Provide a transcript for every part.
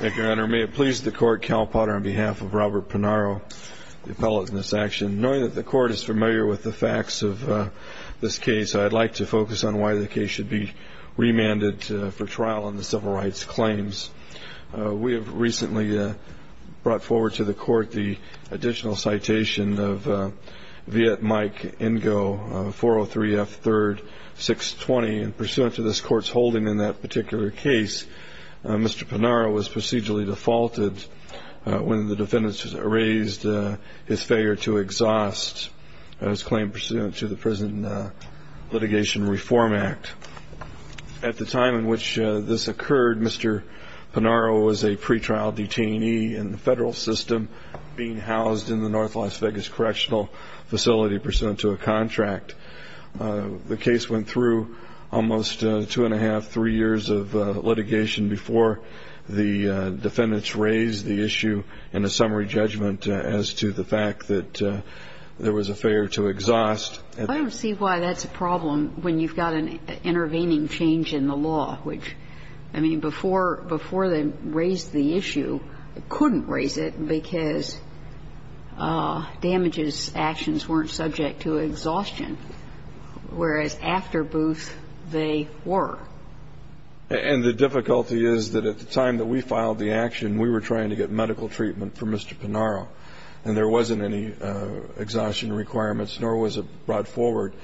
May it please the Court, Cal Potter, on behalf of Robert Panaro, the appellate in this action. Knowing that the Court is familiar with the facts of this case, I'd like to focus on why the case should be remanded for trial on the civil rights claims. We have recently brought forward to the Court the additional citation of Viet Mike Ingo, 403 F. 3rd. 620. Pursuant to this Court's holding in that particular case, Mr. Panaro was procedurally defaulted when the defendants raised his failure to exhaust his claim pursuant to the Prison Litigation Reform Act. At the time in which this occurred, Mr. Panaro was a pretrial detainee in the federal system, being housed in the N. Las Vegas Correctional Facility pursuant to a contract. The case went through almost two and a half, three years of litigation before the defendants raised the issue in a summary judgment as to the fact that there was a failure to exhaust. I don't see why that's a problem when you've got an intervening change in the law, which, I mean, before they raised the issue, couldn't raise it because damages actions weren't subject to exhaustion, whereas after Booth, they were. And the difficulty is that at the time that we filed the action, we were trying to get medical treatment for Mr. Panaro, and there wasn't any exhaustion requirements, nor was it brought forward.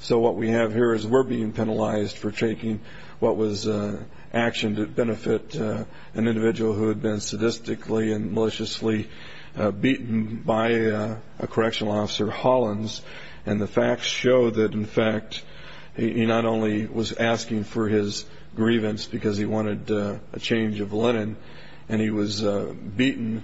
So what we have here is we're being penalized for taking what was action to benefit an individual who had been sadistically and maliciously beaten by a correctional officer, Hollins. And the facts show that, in fact, he not only was asking for his grievance because he wanted a change of linen, and he was beaten.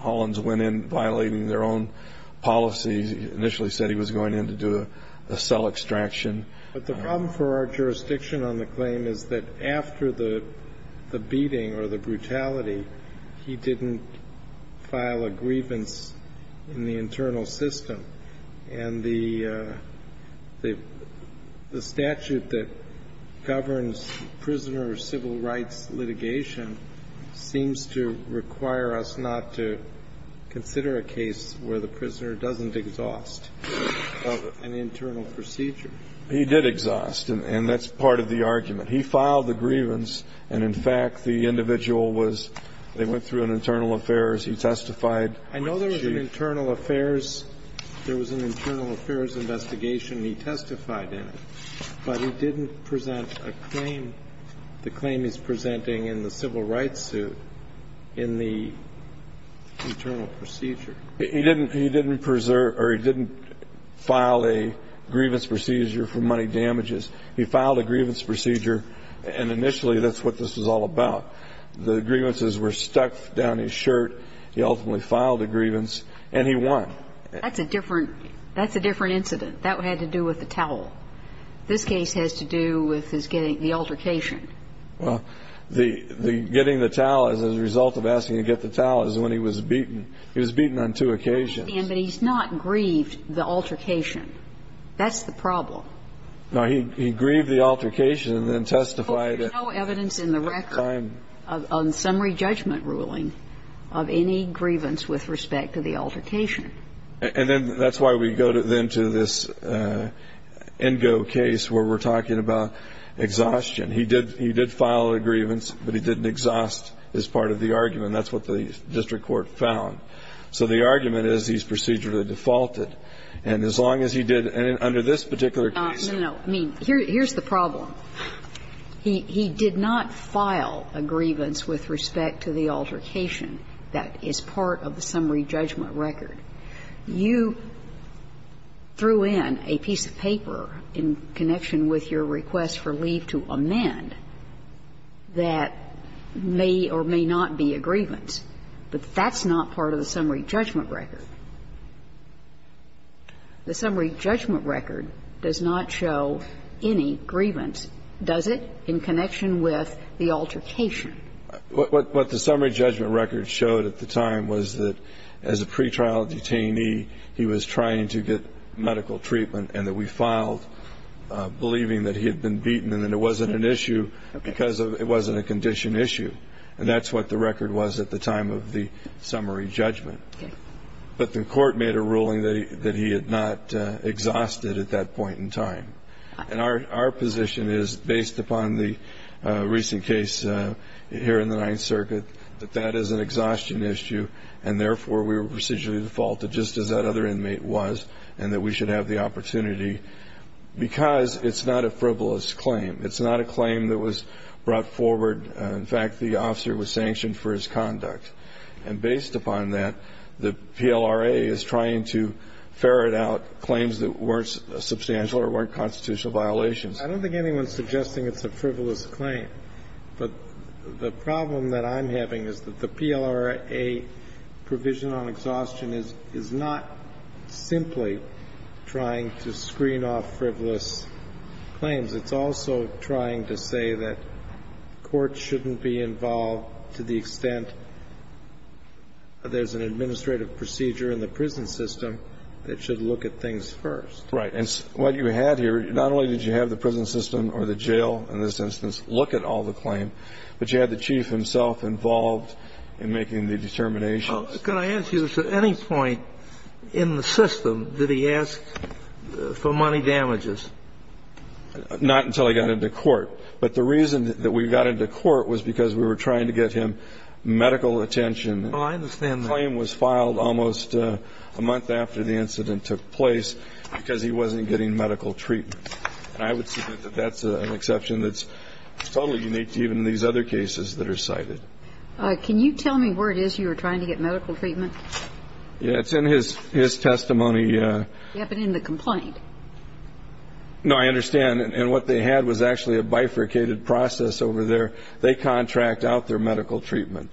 Hollins went in violating their own policies. He initially said he was going in to do a cell extraction. But the problem for our jurisdiction on the claim is that after the beating or the brutality, he didn't file a grievance in the internal system. And the statute that governs prisoner civil rights litigation seems to require us not to consider a case where the prisoner doesn't exhaust an internal procedure. He did exhaust, and that's part of the argument. He filed the grievance, and, in fact, the individual was they went through an internal affairs. He testified. I know there was an internal affairs. There was an internal affairs investigation. He testified in it. But he didn't present a claim, the claim he's presenting in the civil rights suit in the internal procedure. He didn't preserve or he didn't file a grievance procedure for money damages. He filed a grievance procedure, and initially that's what this was all about. The grievances were stuck down his shirt. He ultimately filed a grievance, and he won. That's a different incident. That had to do with the towel. This case has to do with his getting the altercation. Well, the getting the towel as a result of asking to get the towel is when he was beaten. He was beaten on two occasions. I understand, but he's not grieved the altercation. That's the problem. No. He grieved the altercation and then testified. There's no evidence in the record on summary judgment ruling of any grievance with respect to the altercation. And then that's why we go then to this Ingo case where we're talking about exhaustion. He did file a grievance, but he didn't exhaust as part of the argument. That's what the district court found. So the argument is he's procedurally defaulted. And as long as he did under this particular case. No, no, no. I mean, here's the problem. He did not file a grievance with respect to the altercation. That is part of the summary judgment record. You threw in a piece of paper in connection with your request for leave to amend that may or may not be a grievance. But that's not part of the summary judgment record. The summary judgment record does not show any grievance, does it, in connection with the altercation? What the summary judgment record showed at the time was that as a pretrial detainee, he was trying to get medical treatment and that we filed believing that he had been beaten and that it wasn't an issue because it wasn't a condition issue. And that's what the record was at the time of the summary judgment. But the court made a ruling that he had not exhausted at that point in time. And our position is, based upon the recent case here in the Ninth Circuit, that that is an exhaustion issue and, therefore, we were procedurally defaulted just as that other inmate was and that we should have the opportunity because it's not a frivolous claim. It's not a claim that was brought forward. In fact, the officer was sanctioned for his conduct. And based upon that, the PLRA is trying to ferret out claims that weren't substantial or weren't constitutional violations. I don't think anyone's suggesting it's a frivolous claim. But the problem that I'm having is that the PLRA provision on exhaustion is not simply trying to screen off frivolous claims. It's also trying to say that courts shouldn't be involved to the extent there's an administrative procedure in the prison system that should look at things first. Right. And what you had here, not only did you have the prison system or the jail in this instance look at all the claims, but you had the chief himself involved in making the determinations. Could I ask you this? At any point in the system did he ask for money damages? Not until he got into court. But the reason that we got into court was because we were trying to get him medical attention. Oh, I understand that. The claim was filed almost a month after the incident took place because he wasn't getting medical treatment. And I would submit that that's an exception that's totally unique to even these other cases that are cited. Can you tell me where it is you were trying to get medical treatment? Yeah. It's in his testimony. Yeah, but in the complaint. No, I understand. And what they had was actually a bifurcated process over there. They contract out their medical treatment.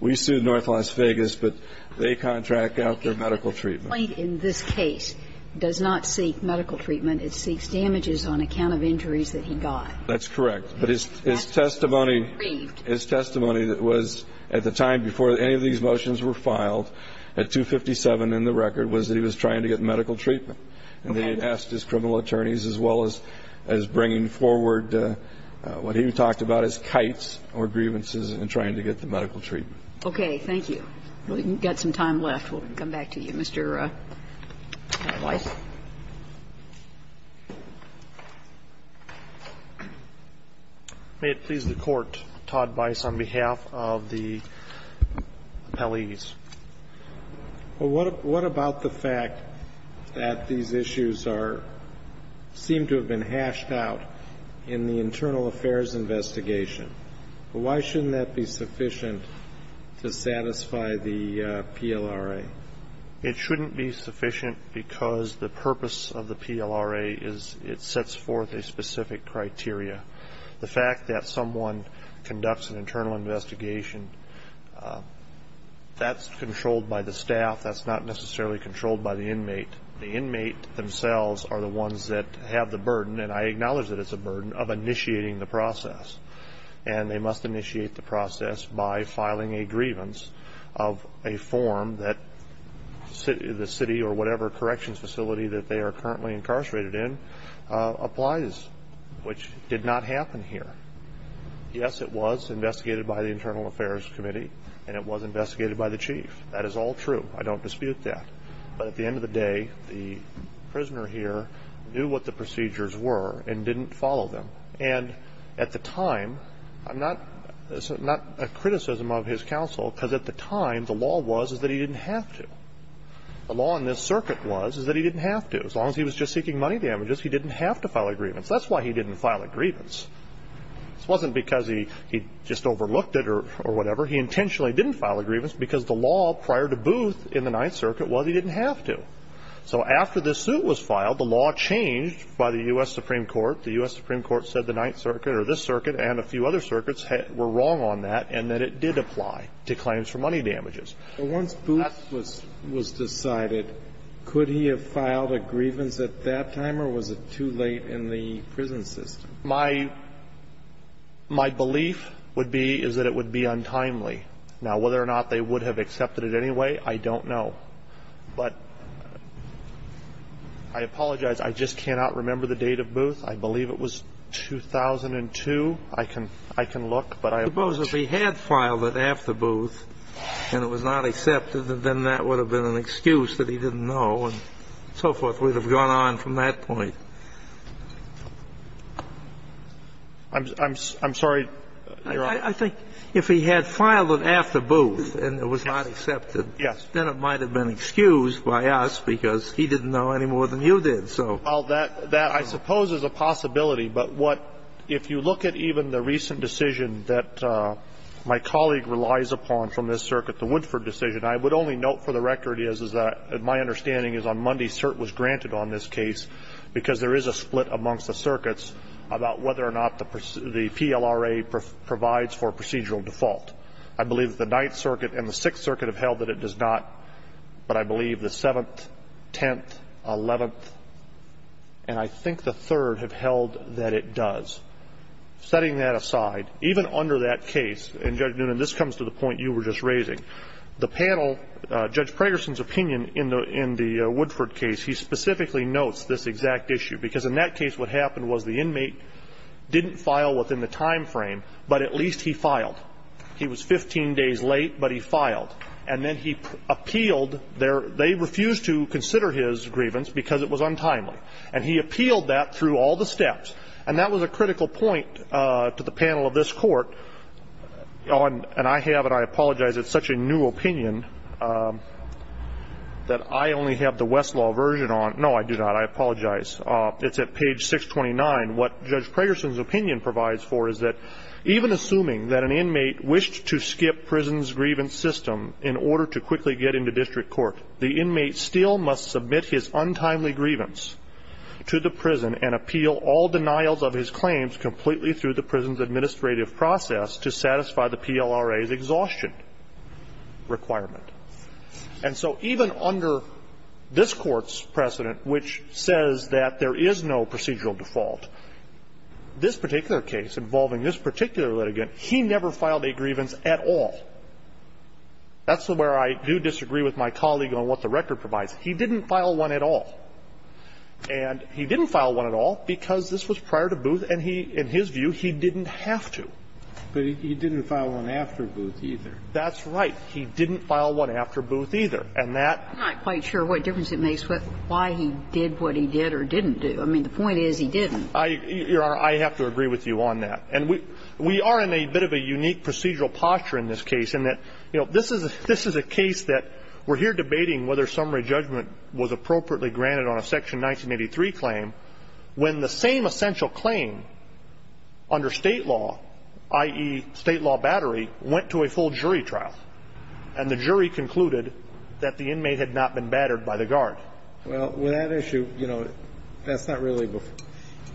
We sued North Las Vegas, but they contract out their medical treatment. The complaint in this case does not seek medical treatment. It seeks damages on account of injuries that he got. That's correct. But his testimony, his testimony that was at the time before any of these motions were filed, at 257 in the record, was that he was trying to get medical treatment. And they had asked his criminal attorneys as well as bringing forward what he talked about as kites or grievances in trying to get the medical treatment. Okay. Thank you. We've got some time left. We'll come back to you, Mr. Weiss. May it please the Court, Todd Weiss, on behalf of the appellees. What about the fact that these issues seem to have been hashed out in the internal affairs investigation? Why shouldn't that be sufficient to satisfy the PLRA? It shouldn't be sufficient because the purpose of the PLRA is it sets forth a specific criteria. The fact that someone conducts an internal investigation, that's controlled by the staff. That's not necessarily controlled by the inmate. The inmate themselves are the ones that have the burden, and I acknowledge that it's a burden, of initiating the process. And they must initiate the process by filing a grievance of a form that the city or whatever corrections facility that they are currently incarcerated in applies, which did not happen here. Yes, it was investigated by the Internal Affairs Committee, and it was investigated by the chief. That is all true. I don't dispute that. But at the end of the day, the prisoner here knew what the procedures were and didn't follow them. And at the time, I'm not a criticism of his counsel because at the time, the law was that he didn't have to. The law in this circuit was that he didn't have to. As long as he was just seeking money damages, he didn't have to file a grievance. That's why he didn't file a grievance. It wasn't because he just overlooked it or whatever. He intentionally didn't file a grievance because the law prior to Booth in the Ninth Circuit was he didn't have to. So after this suit was filed, the law changed by the U.S. Supreme Court. The U.S. Supreme Court said the Ninth Circuit or this circuit and a few other circuits were wrong on that and that it did apply to claims for money damages. Once Booth was decided, could he have filed a grievance at that time or was it too late in the prison system? My belief would be is that it would be untimely. Now, whether or not they would have accepted it anyway, I don't know. But I apologize. I just cannot remember the date of Booth. I believe it was 2002. I can look. But I suppose if he had filed it after Booth and it was not accepted, then that would have been an excuse that he didn't know and so forth would have gone on from that point. I'm sorry, Your Honor. I think if he had filed it after Booth and it was not accepted, then it might have been excused by us because he didn't know any more than you did. If he had filed it after Booth and it was not accepted, then it might have gone on from that point, if so. Well, that I suppose is a possibility. But what ‑‑ if you look at even the recent decision that my colleague relies upon from this circuit, the Woodford decision, I would only note for the record is that my understanding is on Monday CERT was granted on this case because there is a split amongst the circuits about whether or not the PLRA provides for procedural default. I believe the Ninth Circuit and the Sixth Circuit have held that it does not, but I believe the Seventh, Tenth, Eleventh, and I think the Third have held that it does. Setting that aside, even under that case, and, Judge Noonan, this comes to the point you were just raising. The panel, Judge Pragerson's opinion in the Woodford case, he specifically notes this exact issue, because in that case what happened was the inmate didn't file within the time frame, but at least he filed. He was 15 days late, but he filed. And then he appealed their ‑‑ they refused to consider his grievance because it was untimely. And he appealed that through all the steps, and that was a critical point to the panel of this Court. And I have, and I apologize, it's such a new opinion that I only have the Westlaw version on. No, I do not. I apologize. It's at page 629. What Judge Pragerson's opinion provides for is that even assuming that an inmate wished to skip prison's grievance system in order to quickly get into district court, the inmate still must submit his untimely grievance to the prison and appeal all denials of his claims completely through the prison's administrative process to satisfy the PLRA's exhaustion requirement. And so even under this Court's precedent, which says that there is no procedural default, this particular case involving this particular litigant, he never filed a grievance at all. That's where I do disagree with my colleague on what the record provides. He didn't file one at all. And he didn't file one at all because this was prior to Booth, and he, in his view, he didn't have to. But he didn't file one after Booth either. That's right. He didn't file one after Booth either. And that --- I'm not quite sure what difference it makes why he did what he did or didn't do. I mean, the point is he didn't. Your Honor, I have to agree with you on that. This is a case that we're here debating whether summary judgment was appropriately granted on a Section 1983 claim when the same essential claim under State law, i.e., State law battery, went to a full jury trial, and the jury concluded that the inmate had not been battered by the guard. Well, with that issue, you know, that's not really a good thing.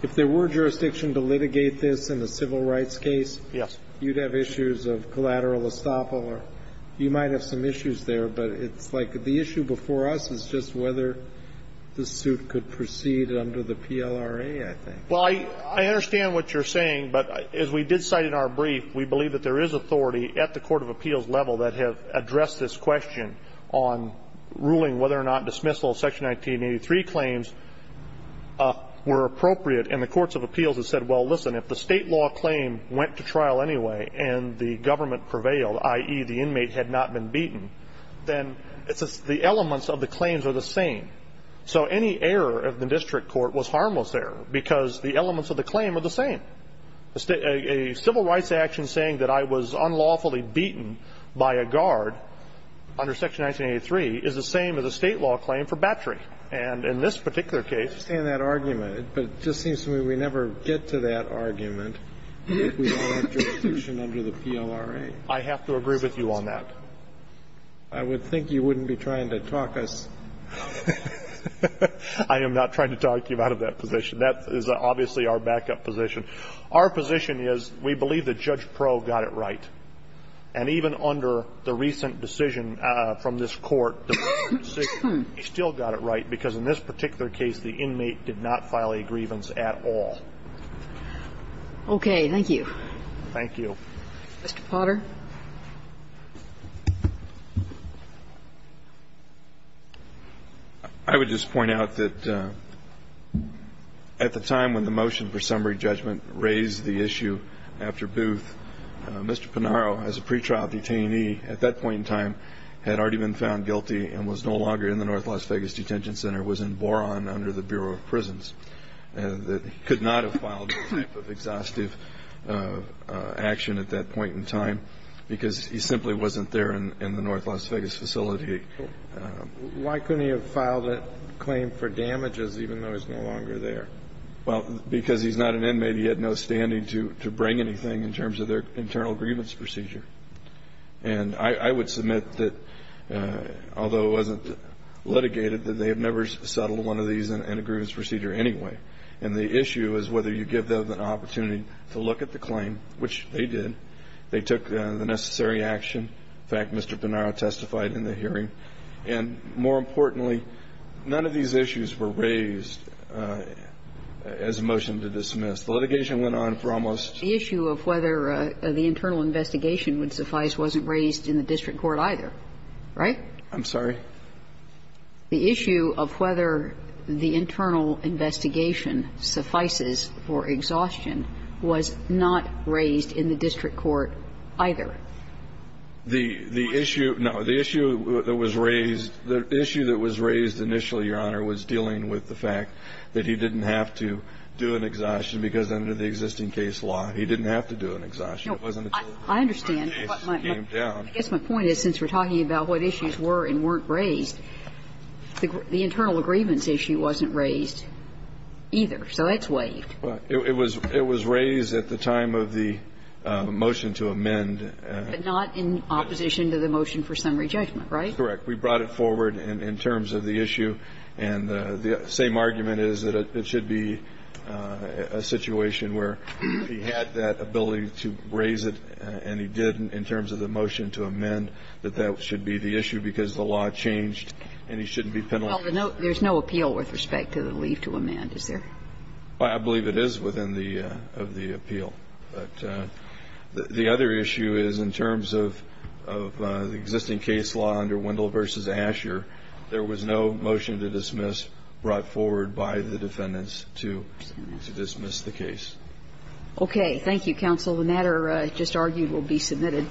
If there were jurisdiction to litigate this in a civil rights case, you'd have issues of collateral estoppel or you might have some issues there. But it's like the issue before us is just whether the suit could proceed under the PLRA, I think. Well, I understand what you're saying. But as we did cite in our brief, we believe that there is authority at the court of appeals level that have addressed this question on ruling whether or not dismissal of Section 1983 claims were appropriate. And the courts of appeals have said, well, listen, if the State law claim went to the jury trial and the government prevailed, i.e., the inmate had not been beaten, then the elements of the claims are the same. So any error of the district court was harmless error because the elements of the claim are the same. A civil rights action saying that I was unlawfully beaten by a guard under Section 1983 is the same as a State law claim for battery. And in this particular case ---- I understand that argument, but it just seems to me we never get to that argument if we don't have jurisdiction under the PLRA. I have to agree with you on that. I would think you wouldn't be trying to talk us ---- I am not trying to talk you out of that position. That is obviously our backup position. Our position is we believe that Judge Proulx got it right. And even under the recent decision from this Court, the court still got it right because in this particular case the inmate did not file a grievance at all. Okay. Thank you. Thank you. Mr. Potter. I would just point out that at the time when the motion for summary judgment raised the issue after Booth, Mr. Pinaro, as a pretrial detainee at that point in time, had already been found guilty and was no longer in the North Las Vegas Detention Center, was in Boron under the Bureau of Prisons. He could not have filed that type of exhaustive action at that point in time because he simply wasn't there in the North Las Vegas facility. Why couldn't he have filed a claim for damages even though he's no longer there? Well, because he's not an inmate. He had no standing to bring anything in terms of their internal grievance procedure. And I would submit that although it wasn't litigated, they have never settled one of these in a grievance procedure anyway. And the issue is whether you give them an opportunity to look at the claim, which they did. They took the necessary action. In fact, Mr. Pinaro testified in the hearing. And more importantly, none of these issues were raised as a motion to dismiss. The litigation went on for almost ---- The issue of whether the internal investigation would suffice wasn't raised in the district court either. Right? I'm sorry? The issue of whether the internal investigation suffices for exhaustion was not raised in the district court either. The issue that was raised initially, Your Honor, was dealing with the fact that he didn't have to do an exhaustion because under the existing case law, he didn't have to do an exhaustion. It wasn't until the case came down. I guess my point is since we're talking about what issues were and weren't raised, the internal grievance issue wasn't raised either. So it's waived. It was raised at the time of the motion to amend. But not in opposition to the motion for summary judgment, right? Correct. We brought it forward in terms of the issue. And the same argument is that it should be a situation where he had that ability to raise it and he didn't in terms of the motion to amend, that that should be the issue because the law changed and he shouldn't be penalized. Well, there's no appeal with respect to the leave to amend, is there? I believe it is within the ---- of the appeal. But the other issue is in terms of the existing case law under Wendell v. Asher, there was no motion to dismiss brought forward by the defendants to dismiss the case. Okay. Thank you, counsel. The matter just argued will be submitted.